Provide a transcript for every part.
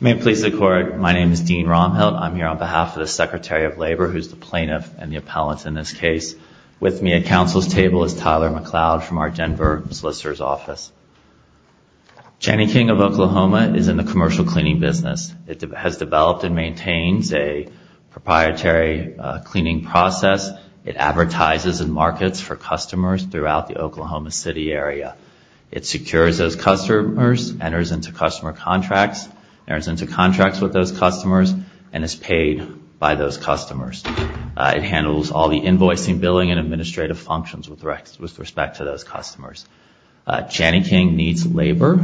My name is Dean Romhelt. I'm here on behalf of the Secretary of Labor, who's the plaintiff and the appellant in this case. With me at Council's table is Tyler McLeod from our Denver Solicitor's Office. Jani-King of Oklahoma is in the commercial cleaning business. It has developed and maintains a proprietary cleaning process. It advertises in markets for customers throughout the Oklahoma City area. It secures those customers, enters into customer contracts, enters into contracts with those customers, and is paid by those customers. It handles all the invoicing, billing, and administrative functions with respect to those customers. Jani-King needs labor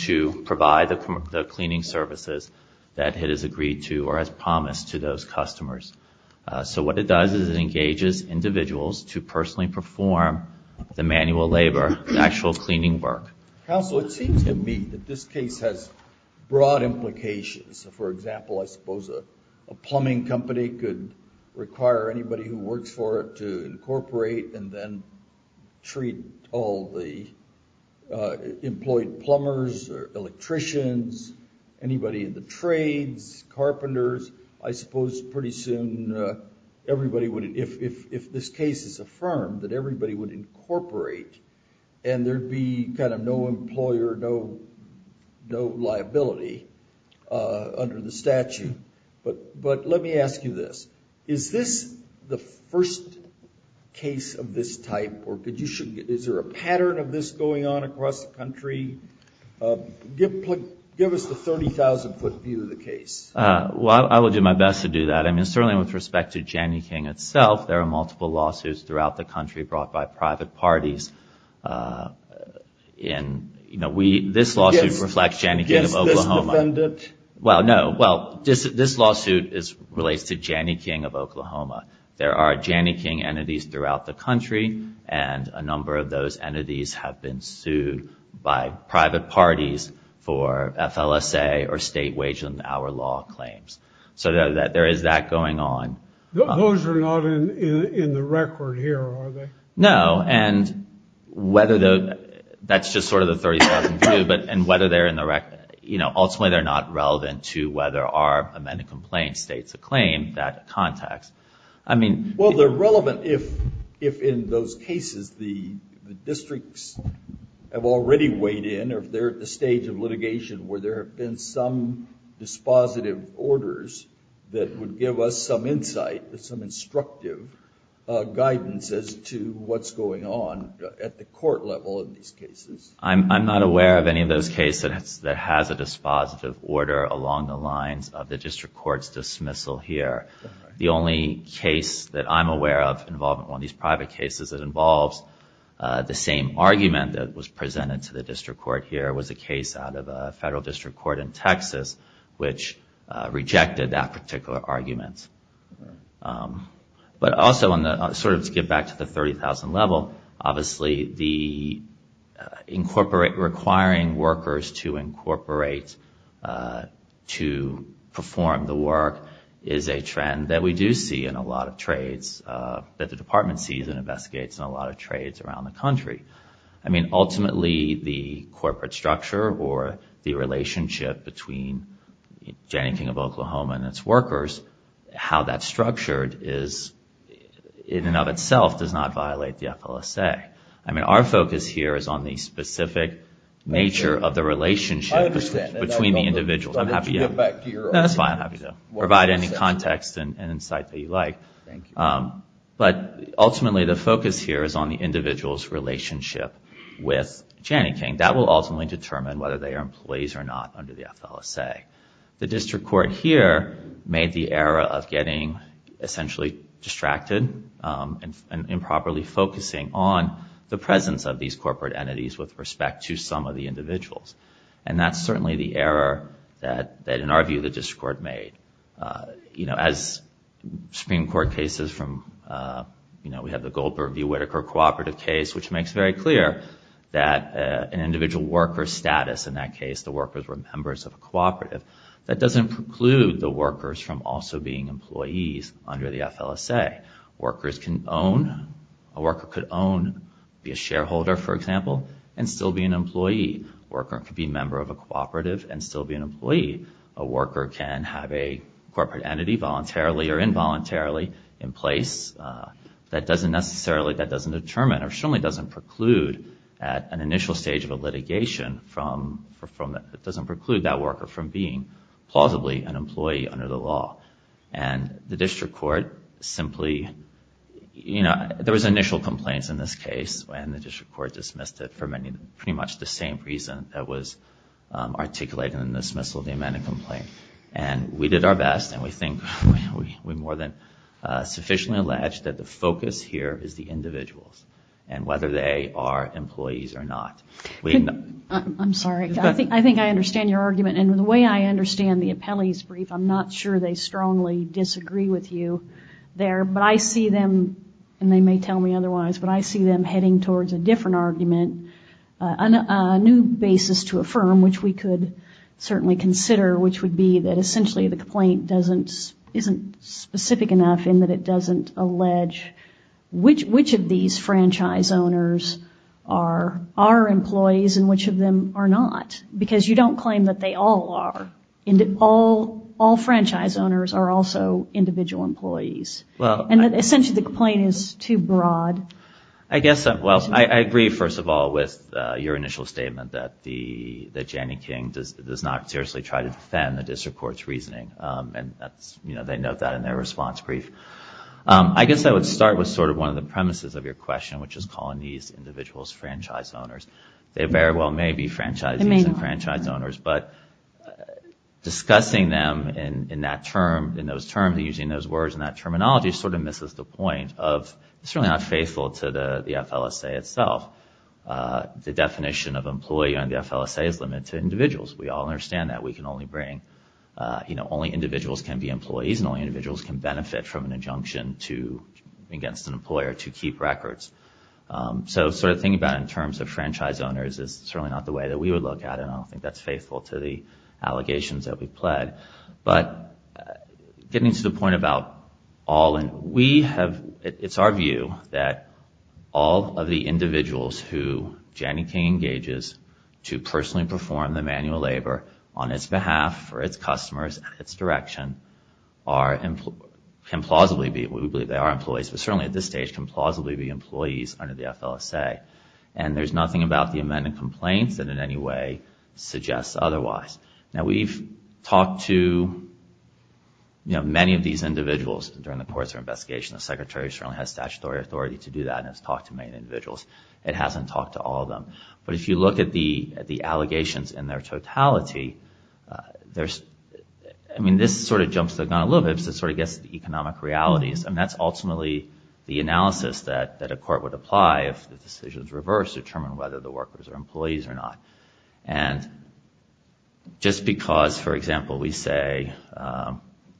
to provide the cleaning services that it has agreed to or has promised to those customers. So what it does is it engages individuals to personally perform the manual labor, the actual cleaning work. Counsel, it seems to me that this case has broad implications. For example, I suppose a plumbing company could require anybody who works for it to incorporate and then treat all the employed plumbers or electricians, anybody in the trades, carpenters. I suppose pretty soon everybody would, if this case is affirmed, that everybody would incorporate and there'd be kind of no employer, no liability under the statute. But let me ask you this. Is this the first case of this type, or is there a pattern of this going on across the country? Give us the 30,000-foot view of the case. Well, I will do my best to do that. I mean, certainly with respect to Jani-King itself, there are multiple lawsuits throughout the country brought by private parties. This lawsuit reflects Jani-King of Oklahoma. Against this defendant? Well, no. Well, this lawsuit relates to Jani-King of Oklahoma. There are Jani-King entities throughout the country, and a number of those entities have been sued by private parties for FLSA or state wage and hour law claims. So there is that going on. Those are not in the record here, are they? No, and that's just sort of the 30,000 view, and ultimately they're not relevant to whether our amended complaint states a claim, that context. Well, they're relevant if in those cases the districts have already weighed in, or if they're at the stage of litigation where there have been some dispositive orders that would give us some insight, some instructive guidance as to what's going on at the court level in these cases. I'm not aware of any of those cases that has a dispositive order along the lines of the district court's dismissal here. The only case that I'm aware of involving one of these private cases that involves the same argument that was presented to the district court here was a case out of a federal district court in Texas which rejected that particular argument. But also, sort of to get back to the 30,000 level, obviously requiring workers to incorporate to perform the work is a trend that we do see in a lot of trades, that the department sees and investigates in a lot of trades around the country. I mean, ultimately the corporate structure or the relationship between Janie King of Oklahoma and its workers, how that's structured is in and of itself does not violate the FLSA. I mean, our focus here is on the specific nature of the relationship between the individuals. I'm happy to provide any context and insight that you like. But ultimately the focus here is on the individual's relationship with Janie King. That will ultimately determine whether they are employees or not under the FLSA. The district court here made the error of getting essentially distracted and improperly focusing on the presence of these corporate entities with respect to some of the individuals. And that's certainly the error that, in our view, the district court made. As Supreme Court cases from, we have the Goldberg v. Whitaker cooperative case, which makes very clear that an individual worker's status, in that case the workers were members of a cooperative, that doesn't preclude the workers from also being employees under the FLSA. Workers can own, a worker could own, be a shareholder, for example, and still be an employee. A worker could be a member of a cooperative and still be an employee. A worker can have a corporate entity voluntarily or involuntarily in place. That doesn't necessarily, that doesn't determine or certainly doesn't preclude at an initial stage of a litigation from, it doesn't preclude that worker from being, plausibly, an employee under the law. And the district court simply, you know, there was initial complaints in this case and the district court dismissed it for pretty much the same reason that was articulated in the dismissal of the amended complaint. And we did our best and we think, we more than sufficiently alleged that the focus here is the individuals. And whether they are employees or not. I'm sorry, I think I understand your argument and the way I understand the appellee's brief, I'm not sure they strongly disagree with you there, but I see them, and they may tell me otherwise, but I see them heading towards a different argument, a new basis to affirm, which we could certainly consider, which would be that essentially the complaint doesn't, isn't specific enough in that it doesn't allege which of these franchise owners are employees and which of them are not. Because you don't claim that they all are. All franchise owners are also individual employees. And essentially the complaint is too broad. I agree, first of all, with your initial statement that Jannie King does not seriously try to defend the district court's reasoning. And they note that in their response brief. I guess I would start with sort of one of the premises of your question, which is calling these individuals franchise owners. They very well may be franchisees and franchise owners, but discussing them in that term, in those terms, using those words and that terminology sort of misses the point of it's really not faithful to the FLSA itself. The definition of employee on the FLSA is limited to individuals. We all understand that we can only bring, you know, only individuals can be employees, and only individuals can benefit from an injunction against an employer to keep records. So sort of thinking about it in terms of franchise owners is certainly not the way that we would look at it, and I don't think that's faithful to the allegations that we've pled. But getting to the point about all, it's our view that all of the individuals who Jannie King engages to personally perform the manual labor on its behalf for its customers and its direction can plausibly be, we believe they are employees, but certainly at this stage can plausibly be employees under the FLSA. And there's nothing about the amendment complaints that in any way suggests otherwise. Now we've talked to many of these individuals during the course of our investigation. The secretary certainly has statutory authority to do that and has talked to many individuals. It hasn't talked to all of them, but if you look at the allegations in their totality, I mean this sort of jumps the gun a little bit because it sort of gets to the economic realities, and that's ultimately the analysis that a court would apply if the decision is reversed to determine whether the workers are employees or not. And just because, for example, we say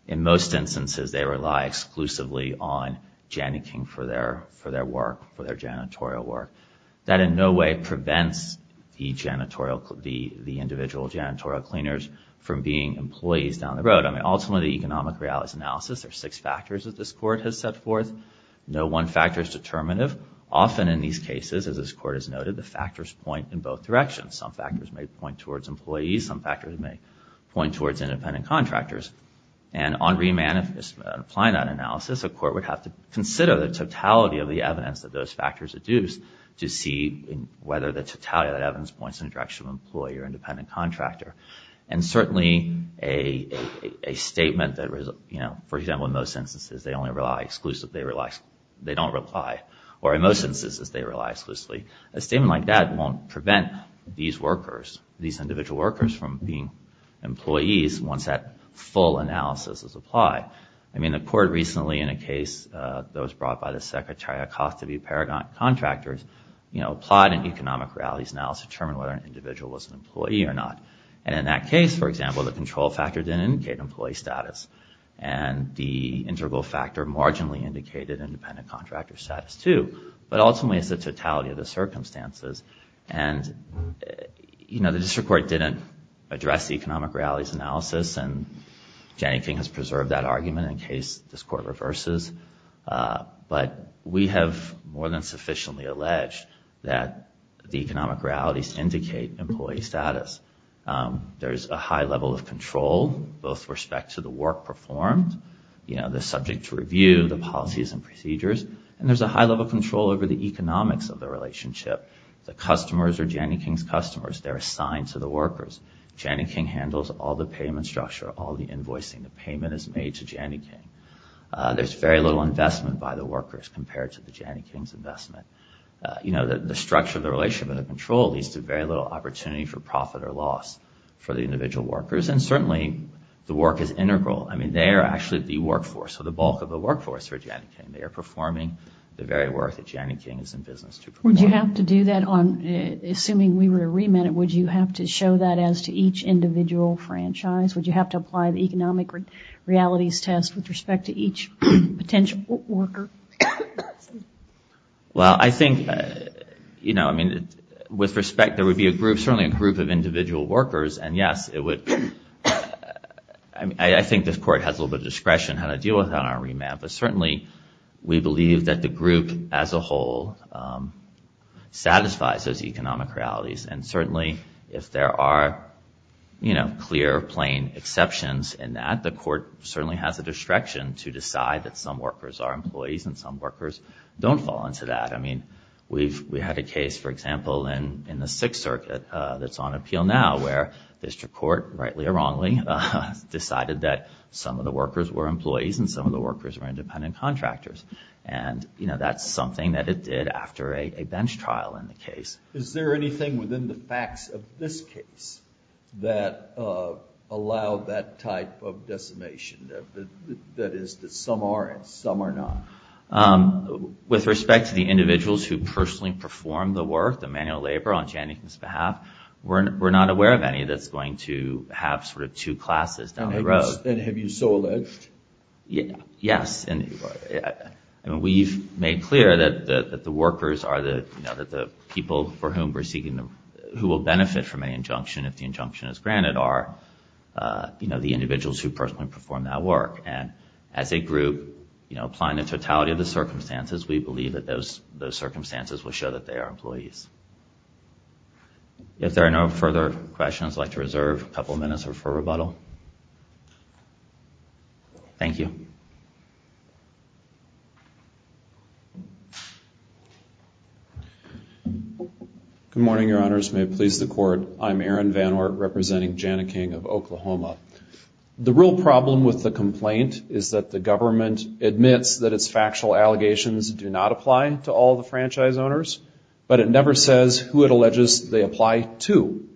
in most instances they rely exclusively on Jannie King for their work, for their janitorial work, that in no way prevents the individual janitorial cleaners from being employees down the road. Ultimately the economic realities analysis, there are six factors that this court has set forth. No one factor is determinative. Often in these cases, as this court has noted, the factors point in both directions. Some factors may point towards employees, some factors may point towards independent contractors. And on re-applying that analysis, a court would have to consider the totality of the evidence that those factors deduce to see whether the totality of that evidence points in the direction of employee or independent contractor. And certainly a statement that, for example, in most instances they only rely exclusively, they don't reply, or in most instances they rely exclusively, a statement like that won't prevent these workers, these individual workers from being employees once that full analysis is applied. I mean, the court recently, in a case that was brought by the Secretary Acosta v. Paragon Contractors, applied an economic realities analysis to determine whether an individual was an employee or not. And in that case, for example, the control factor didn't indicate employee status, and the integral factor marginally indicated independent contractor status too, but ultimately it's the totality of the circumstances. And the district court didn't address the economic realities analysis, and Janie King has preserved that argument in case this court reverses. But we have more than sufficiently alleged that the economic realities indicate employee status. There's a high level of control, both with respect to the work performed, and there's a high level of control over the economics of the relationship. The customers are Janie King's customers, they're assigned to the workers. Janie King handles all the payment structure, all the invoicing, the payment is made to Janie King. There's very little investment by the workers compared to the Janie King's investment. The structure of the relationship and the control leads to very little opportunity for profit or loss for the individual workers. And certainly the work is integral. I mean, they are actually the workforce, or the bulk of the workforce for Janie King. They are performing the very work that Janie King is in business to perform. Would you have to do that on, assuming we were to remit it, would you have to show that as to each individual franchise? Would you have to apply the economic realities test with respect to each potential worker? Well, I think, you know, I mean, with respect, there would be a group, certainly a group of individual workers, and yes, it would, I mean, I think this Court has a little bit of discretion how to deal with that on our remit, but certainly we believe that the group as a whole satisfies those economic realities. And certainly if there are, you know, clear, plain exceptions in that, the Court certainly has a discretion to decide that some workers are employees and some workers don't fall into that. I mean, we've had a case, for example, in the Sixth Circuit that's on appeal now, where district court, rightly or wrongly, decided that some of the workers were employees and some of the workers were independent contractors. And, you know, that's something that it did after a bench trial in the case. Is there anything within the facts of this case that allowed that type of decimation? That is, that some are and some are not? With respect to the individuals who personally perform the work, the manual labor, on Channing's behalf, we're not aware of any that's going to have sort of two classes down the road. And have you so alleged? Yes. And we've made clear that the workers are the people for whom we're seeking, who will benefit from an injunction if the injunction is granted are, you know, the individuals who personally perform that work. And as a group, you know, applying the totality of the circumstances, we believe that those circumstances will show that they are employees. If there are no further questions, I'd like to reserve a couple of minutes for rebuttal. Thank you. Good morning, Your Honors. May it please the Court. I'm Aaron Van Ort representing Jana King of Oklahoma. The real problem with the complaint is that the government admits that its factual allegations do not apply to all the franchise owners, but it never says who it alleges they apply to.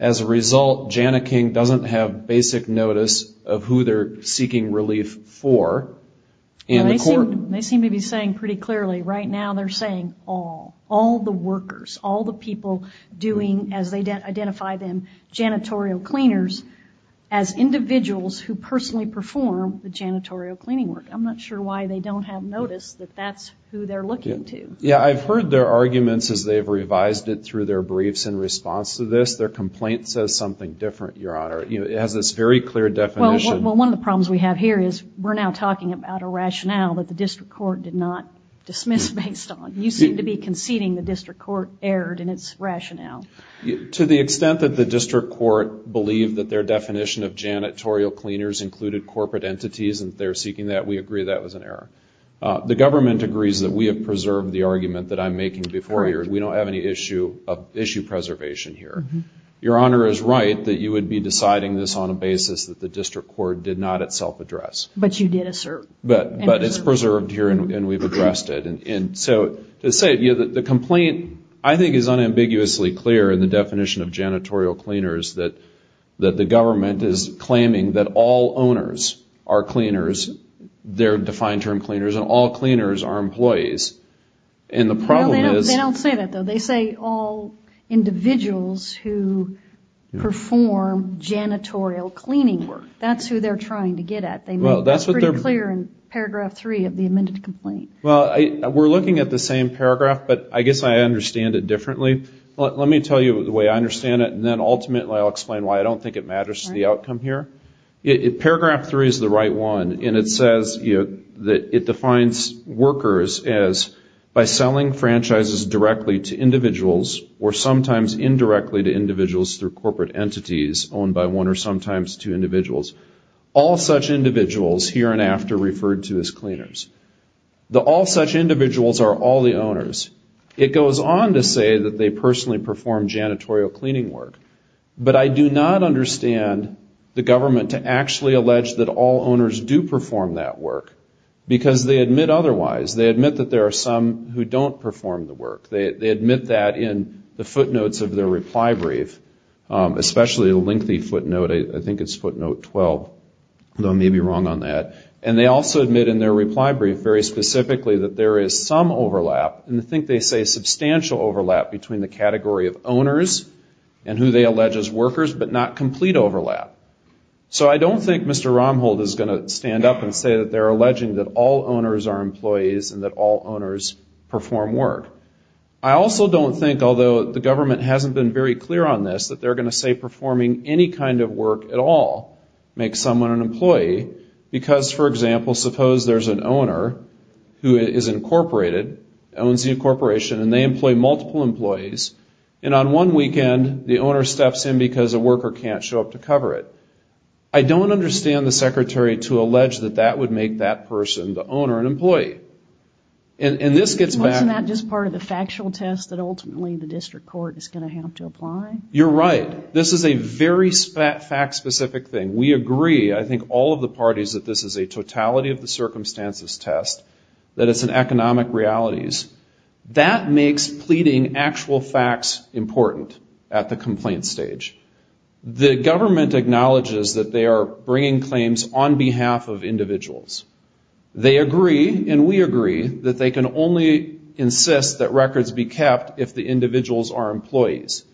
As a result, Jana King doesn't have basic notice of who they're seeking relief for. They seem to be saying pretty clearly, right now they're saying all. All the workers, all the people doing, as they identify them, janitorial cleaners, as individuals who personally perform the janitorial cleaning work. I'm not sure why they don't have notice that that's who they're looking to. Yeah, I've heard their arguments as they've revised it through their briefs in response to this. Their complaint says something different, Your Honor. It has this very clear definition. Well, one of the problems we have here is we're now talking about a rationale that the district court did not dismiss based on. You seem to be conceding the district court erred in its rationale. To the extent that the district court believed that their definition of janitorial cleaners included corporate entities and they're seeking that, we agree that was an error. The government agrees that we have preserved the argument that I'm making before you. We don't have any issue of issue preservation here. Your Honor is right that you would be deciding this on a basis that the district court did not itself address. But you did assert. But it's preserved here and we've addressed it. The complaint, I think, is unambiguously clear in the definition of janitorial cleaners that the government is claiming that all owners are cleaners. They're defined term cleaners and all cleaners are employees. They don't say that, though. They say all individuals who perform janitorial cleaning work. That's who they're trying to get at. That's pretty clear in paragraph three of the amended complaint. We're looking at the same paragraph, but I guess I understand it differently. Let me tell you the way I understand it and then ultimately I'll explain why I don't think it matters to the outcome here. Paragraph three is the right one and it says that it defines workers as by selling franchises directly to individuals or sometimes indirectly to individuals through corporate entities owned by one or sometimes two individuals. All such individuals here and after referred to as cleaners. The all such individuals are all the owners. It goes on to say that they personally perform janitorial cleaning work, but I do not understand the government to actually allege that all owners do perform that work, because they admit otherwise. They admit that there are some who don't perform the work. They admit that in the footnotes of their reply brief, especially the lengthy footnote. I think it's footnote 12, though I may be wrong on that. And they also admit in their reply brief very specifically that there is some overlap and I think they say substantial overlap between the category of owners and who they allege as workers but not complete overlap. So I don't think Mr. Romhold is going to stand up and say that they're alleging that all owners are employees and that all owners perform work. I also don't think, although the government hasn't been very clear on this, that they're going to say performing any kind of work at all makes someone an employee. Because, for example, suppose there's an owner who is incorporated, owns a corporation, and they employ multiple employees and on one weekend the owner steps in because a worker can't show up to cover it. I don't understand the secretary to allege that that would make that person the owner and employee. Isn't that just part of the factual test that ultimately the district court is going to have to apply? You're right. This is a very fact-specific thing. We agree, I think all of the parties, that this is a totality of the circumstances test, that it's an economic realities. That makes pleading actual facts important at the complaint stage. The government acknowledges that they are bringing claims on behalf of individuals. They agree, and we agree, that they can only insist that records be kept if the individuals are employees.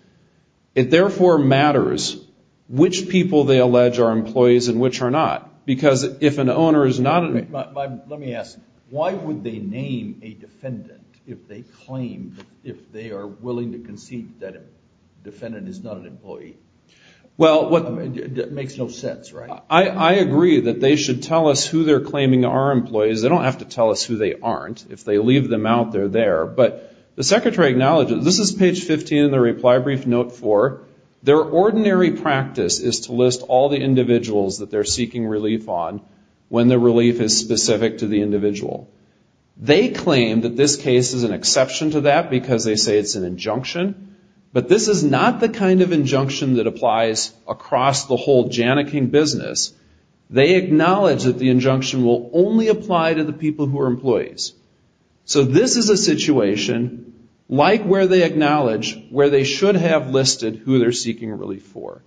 It therefore matters which people they allege are employees and which are not. Because if an owner is not an employee... Let me ask, why would they name a defendant if they claim, if they are willing to concede that a defendant is not an employee? It makes no sense, right? I agree that they should tell us who they're claiming are employees. They don't have to tell us who they aren't. If they leave them out, they're there. But the secretary acknowledges, this is page 15 of the reply brief, note 4, their ordinary practice is to list all the individuals that they're seeking relief on when the relief is specific to the individual. They claim that this case is an exception to that because they say it's an injunction. But this is not the kind of injunction that applies across the whole Janneking business. They acknowledge that the injunction will only apply to the people who are employees. So this is a situation like where they acknowledge where they should have listed who they're seeking relief for.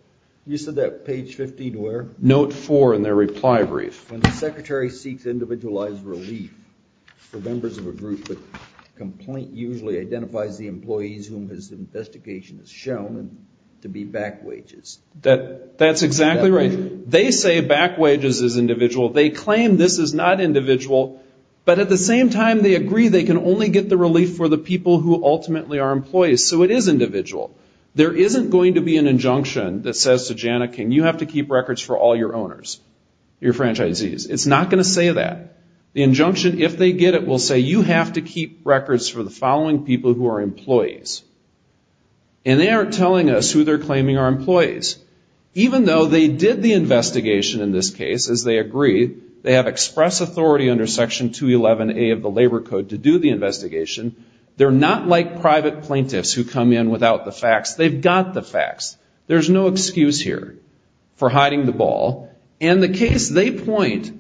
You said that page 15 where? Note 4 in their reply brief. When the secretary seeks individualized relief for members of a group, the complaint usually identifies the employees whom his investigation has shown to be back wages. That's exactly right. They say back wages is individual. They claim this is not individual. But at the same time, they agree they can only get the relief for the people who ultimately are employees. So it is individual. There isn't going to be an injunction that says to Janneking, you have to keep records for all your owners, your franchisees. It's not going to say that. The injunction, if they get it, will say you have to keep records for the following people who are employees. And they aren't telling us who they're claiming are employees. Even though they did the investigation in this case, as they agree, they have express authority under Section 211A of the Labor Code to do the investigation, they're not like private plaintiffs who come in without the facts. They've got the facts. There's no excuse here for hiding the ball. And the case they point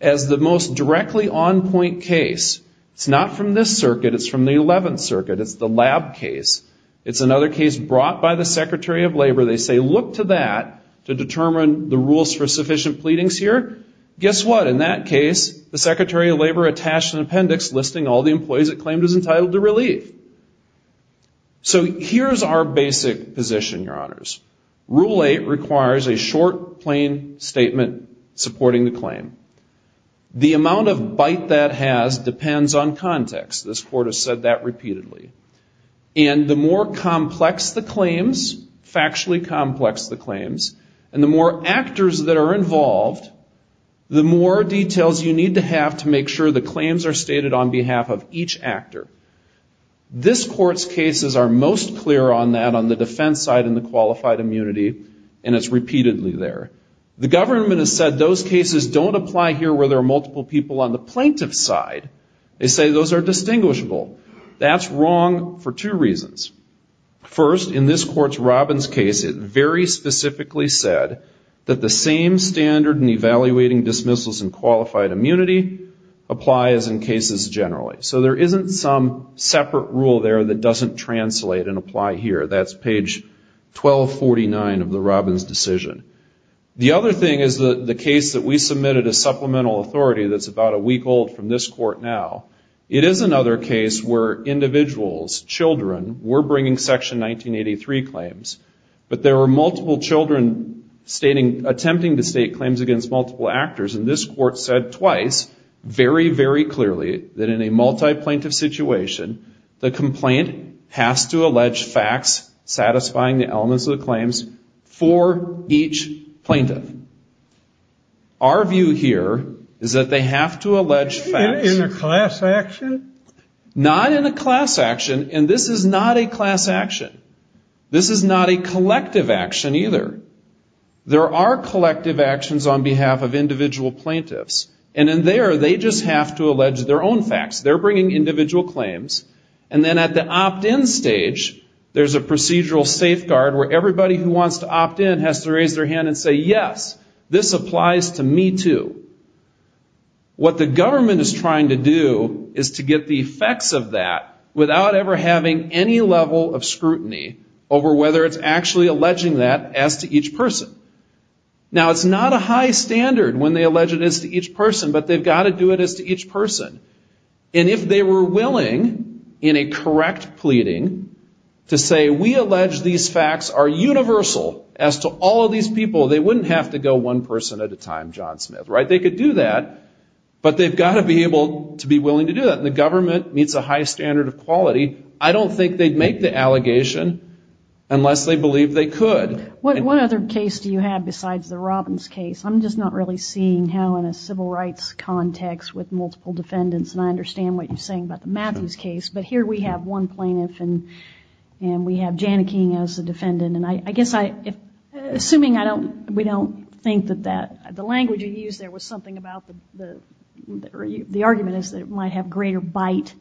as the most directly on point case, it's not from this circuit. It's from the 11th Circuit. It's the lab case. It's another case brought by the Secretary of Labor. They say look to that to determine the rules for sufficient pleadings here. Guess what? In that case, the Secretary of Labor attached an appendix listing all the employees it claimed as entitled to relief. So here's our basic position, Your Honors. Rule 8 requires a short, plain statement supporting the claim. The amount of bite that has depends on context. This Court has said that repeatedly. And the more complex the claims, factually complex the claims, and the more actors that are involved, the more details you need to have to make sure the claims are stated on behalf of each actor. This Court's cases are most clear on that on the defense side and the qualified immunity. And it's repeatedly there. The government has said those cases don't apply here where there are multiple people on the plaintiff's side. They say those are distinguishable. That's wrong for two reasons. First, in this Court's Robbins case, it very specifically said that the same standard in evaluating dismissals and qualified immunity applies in cases generally. So there isn't some separate rule there that doesn't translate and apply here. That's page 1249 of the Robbins decision. The other thing is the case that we submitted as supplemental authority that's about a week old from this Court now. It is another case where individuals, children, were bringing Section 1983 claims, but there were multiple children attempting to state claims against multiple actors. And this Court said twice very, very clearly that in a multi-plaintiff situation, the complaint has to allege facts satisfying the elements of the claims for each plaintiff. Our view here is that they have to allege facts. Not in a class action, and this is not a class action. This is not a collective action either. There are collective actions on behalf of individual plaintiffs. And in there, they just have to allege their own facts. They're bringing individual claims. And then at the opt-in stage, there's a procedural safeguard where everybody who wants to opt-in has to raise their hand and say, yes, this applies to me too. What the government is trying to do is to get the effects of that without ever having any level of scrutiny over whether it's actually alleging that as to each person. Now, it's not a high standard when they allege it as to each person, but they've got to do it as to each person. And if they were willing in a correct pleading to say we allege these facts are universal as to all of these people, they wouldn't have to go one person at a time, John Smith, right? They could do that, but they've got to be able to be willing to do that. And the government meets a high standard of quality. I don't think they'd make the allegation unless they believed they could. What other case do you have besides the Robbins case? I'm just not really seeing how in a civil rights context with multiple defendants. And I understand what you're saying about the Matthews case, but here we have one plaintiff and we have Janneke as the defendant. And I guess assuming we don't think that the language you used there was something about the argument is that it might have greater bite,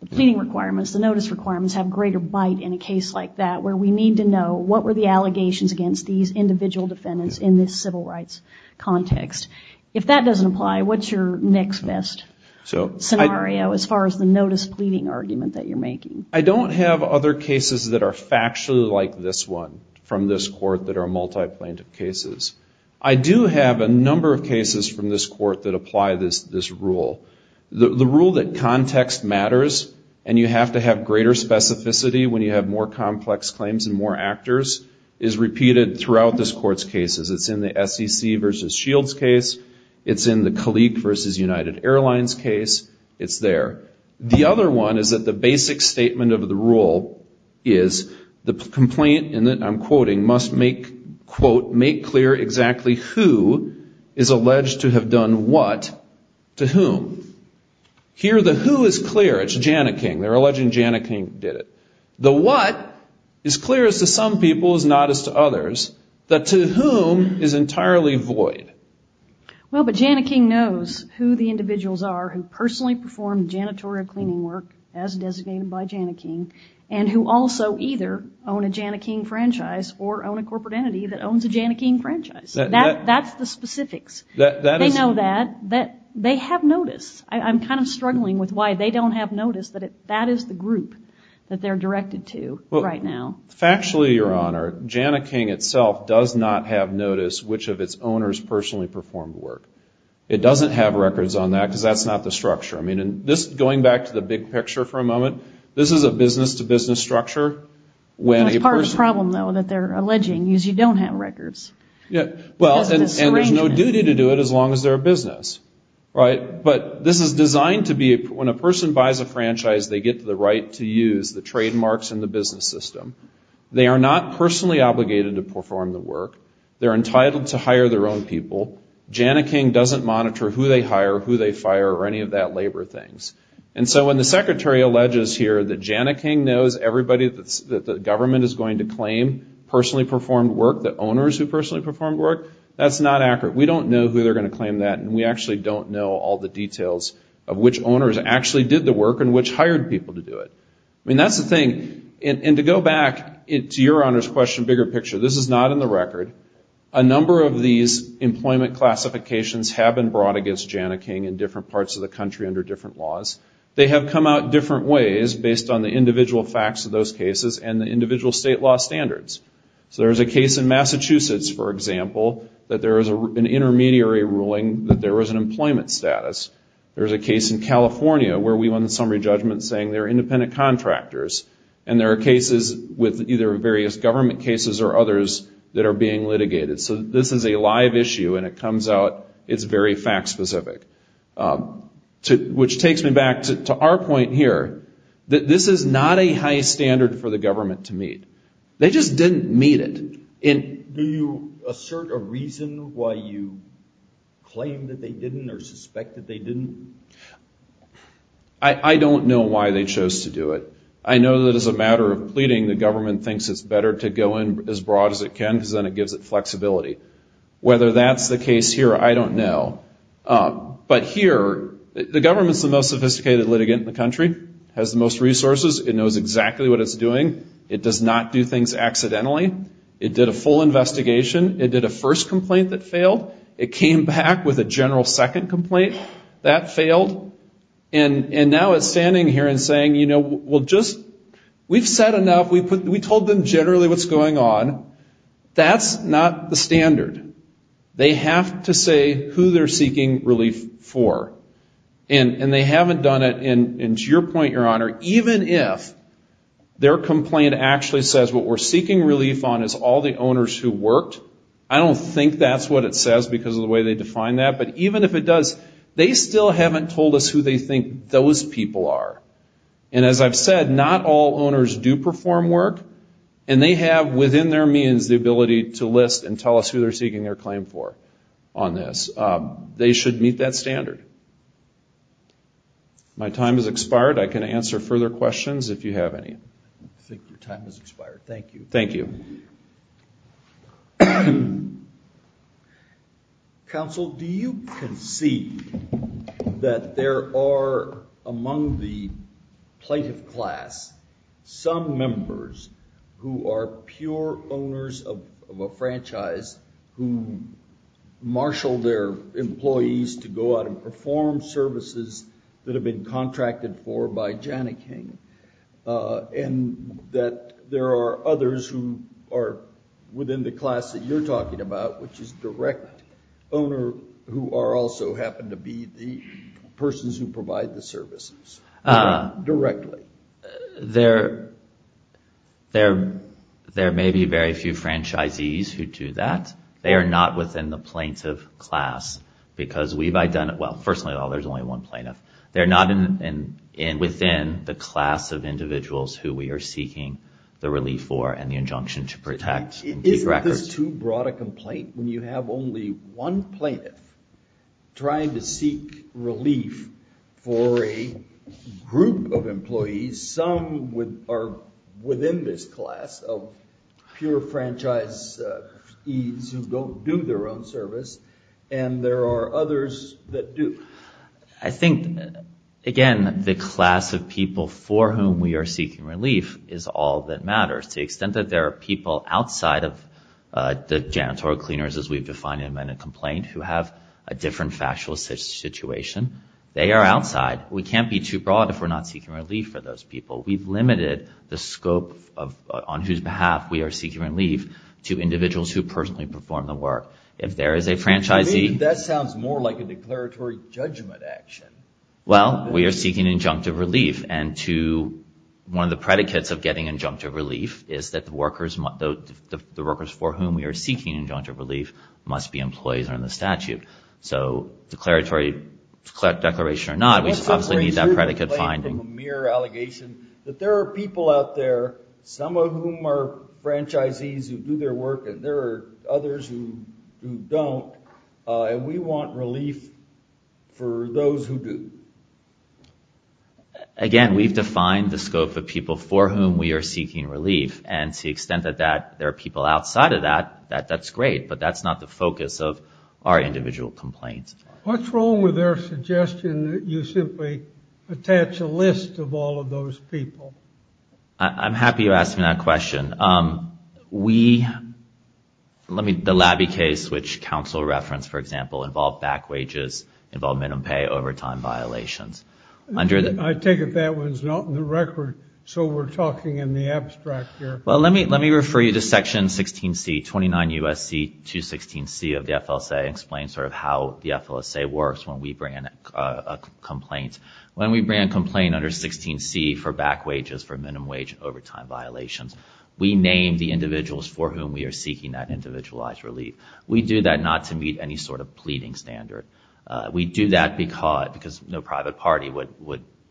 the pleading requirements, the notice requirements have greater bite in a case like that where we need to know what were the allegations against these individual defendants in this civil rights context. If that doesn't apply, what's your next best scenario as far as the notice pleading argument that you're making? I don't have other cases that are factually like this one from this court that are multi-plaintiff cases. I do have a number of cases from this court that apply this rule. The rule that context matters and you have to have greater specificity when you have more complex claims and more actors is repeated throughout this court's cases. It's in the SEC versus Shields case. It's in the colleague versus United Airlines case. It's there. The other one is that the basic statement of the rule is the complaint, and I'm quoting, must make, quote, make clear exactly who is to whom is entirely void. Well, but Jana King knows who the individuals are who personally perform janitorial cleaning work as designated by Jana King and who also either own a Jana King franchise or own a corporate entity that owns a Jana King franchise. That's the specifics. They have notice. I'm kind of struggling with why they don't have notice that that is the group that they're directed to right now. Factually, Your Honor, Jana King itself does not have notice which of its owners personally perform the work. It doesn't have records on that because that's not the structure. I mean, going back to the big picture for a moment, this is a business-to-business structure. It's part of the problem, though, that they're alleging is you don't have records. And there's no duty to do it as long as they're a business. But this is designed to be when a person buys a franchise, they get the right to use the trademarks in the business system. They are not personally obligated to perform the work. They're entitled to hire their own people. Jana King doesn't monitor who they hire, who they fire or any of that labor things. And so when the secretary alleges here that Jana King knows everybody that the government is going to claim personally performed work, the owners actually don't know all the details of which owners actually did the work and which hired people to do it. I mean, that's the thing. And to go back to Your Honor's question, bigger picture, this is not in the record. A number of these employment classifications have been brought against Jana King in different parts of the country under different laws. They have come out different ways based on the individual facts of those cases and the individual state law standards. So there's a case in Massachusetts, for example, that there is an intermediary ruling that there was an employment status. There's a case in California where we won the summary judgment saying there are independent contractors. And there are cases with either various government cases or others that are being litigated. So this is a live issue and it comes out, it's very fact specific. Which takes me back to our point here, that this is not a high standard for the government to meet. They just didn't meet it. And do you assert a reason why you claim that they didn't or suspect that they didn't? I don't know why they chose to do it. I know that as a matter of pleading, the government thinks it's better to go in as broad as it can because then it gives it flexibility. Whether that's the case here, I don't know. But here, the government is the most sophisticated litigant in the country. It has the most resources. It knows exactly what it's doing. It does not do things accidentally. It did a full investigation. It did a first complaint that failed. It came back with a general second complaint that failed. And now it's standing here and saying, you know, we've said enough. We told them generally what's going on. That's not the standard. They have to say who they're seeking relief for. And they haven't done it, and to your point, Your Honor, even if their complaint actually says what we're seeking relief on is all the owners who worked, I don't think that's what it says because of the way they define that. But even if it does, they still haven't told us who they think those people are. And as I've said, not all owners do perform work. And they have within their means the ability to list and tell us who they're seeking their claim for on this. They should meet that standard. My time has expired. I can answer further questions if you have any. I think your time has expired. Thank you. Thank you. Counsel, do you concede that there are, among the plaintiff class, some members who are pure owners of a franchise who marshal their employees to go out and perform services that have been contracted for by Janet King, and that there are others who are within the class that you're talking about, which is direct owner, who also happen to be the persons who provide the services directly? There may be very few franchisees who do that. They are not within the plaintiff class because we've identified, well, first of all, there's only one plaintiff. They're not within the class of individuals who we are seeking the relief for and the injunction to protect. Isn't this too broad a complaint when you have only one plaintiff trying to seek relief for a group of employees, some are within this class of pure franchise who don't do their own service, and there are others that do? I think, again, the class of people for whom we are seeking relief is all that matters. To the extent that there are people outside of the janitorial cleaners, as we've defined in an amended complaint, who have a different factual situation, they are outside. We can't be too broad if we're not seeking relief for those people. We've limited the scope on whose behalf we are seeking relief to individuals who personally perform the work. If there is a franchisee... That sounds more like a declaratory judgment action. Well, we are seeking injunctive relief, and one of the predicates of getting injunctive relief is that the workers for whom we are seeking injunctive relief must be employees under the statute. So declaratory declaration or not, we need that predicate finding. There are people out there, some of whom are franchisees who do their work, and there are others who don't, and we want relief for those who do. Again, we've defined the scope of people for whom we are seeking relief, and to the extent that there are people outside of that, that's great, but that's not the focus of our individual complaint. What's wrong with their suggestion that you simply attach a list of all of those people? I'm happy you asked me that question. The Labby case, which counsel referenced, for example, involved back wages, involved minimum pay, overtime violations. I take it that one's not in the record, so we're talking in the abstract here. Well, let me refer you to Section 16C, 29 U.S.C. 216C of the FLSA, and explain sort of how the FLSA works when we bring in a complaint. When we bring in a complaint under 16C for back wages, for minimum wage and overtime violations, we name the individuals for whom we are seeking that individualized relief. We do that not to meet any sort of pleading standard. We do that because no private party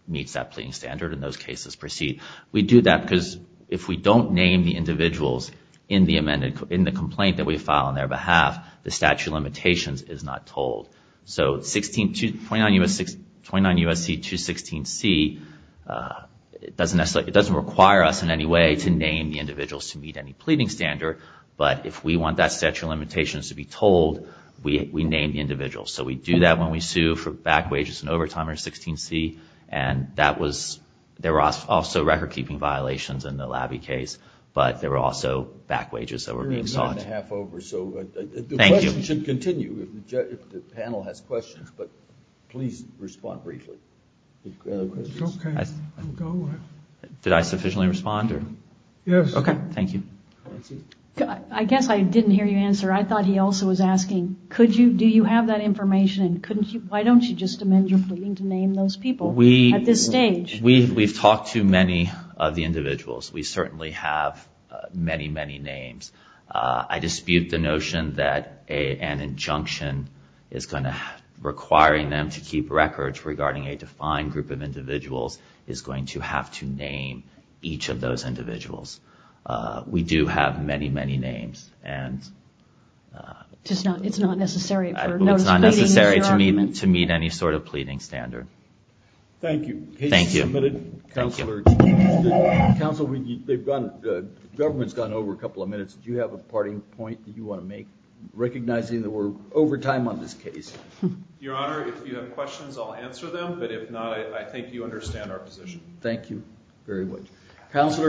meets that pleading standard and those cases proceed. We do that because if we don't name the individuals in the complaint that we file on their behalf, the statute of limitations is not told. So 29 U.S.C. 216C doesn't require us in any way to name the individuals to meet any pleading standard, but if we want that statute of limitations to be told, we name the individuals. So we do that when we sue for back wages and overtime under 16C, and there were also record-keeping violations in the Labby case, but there were also back wages that were being sought. The panel has questions, but please respond briefly. Did I sufficiently respond? Okay. Thank you. I guess I didn't hear you answer. I thought he also was asking, do you have that information, and why don't you just amend your pleading to name those people at this stage? We've talked to many of the individuals. We certainly have many, many names. I dispute the notion that an injunction requiring them to keep records regarding a defined group of individuals is going to have to name each of those individuals. We do have many, many names. It's not necessary to meet any sort of pleading standard. Thank you. Thank you. Your Honor, if you have questions, I'll answer them, but if not, I think you understand our position. Thank you very much.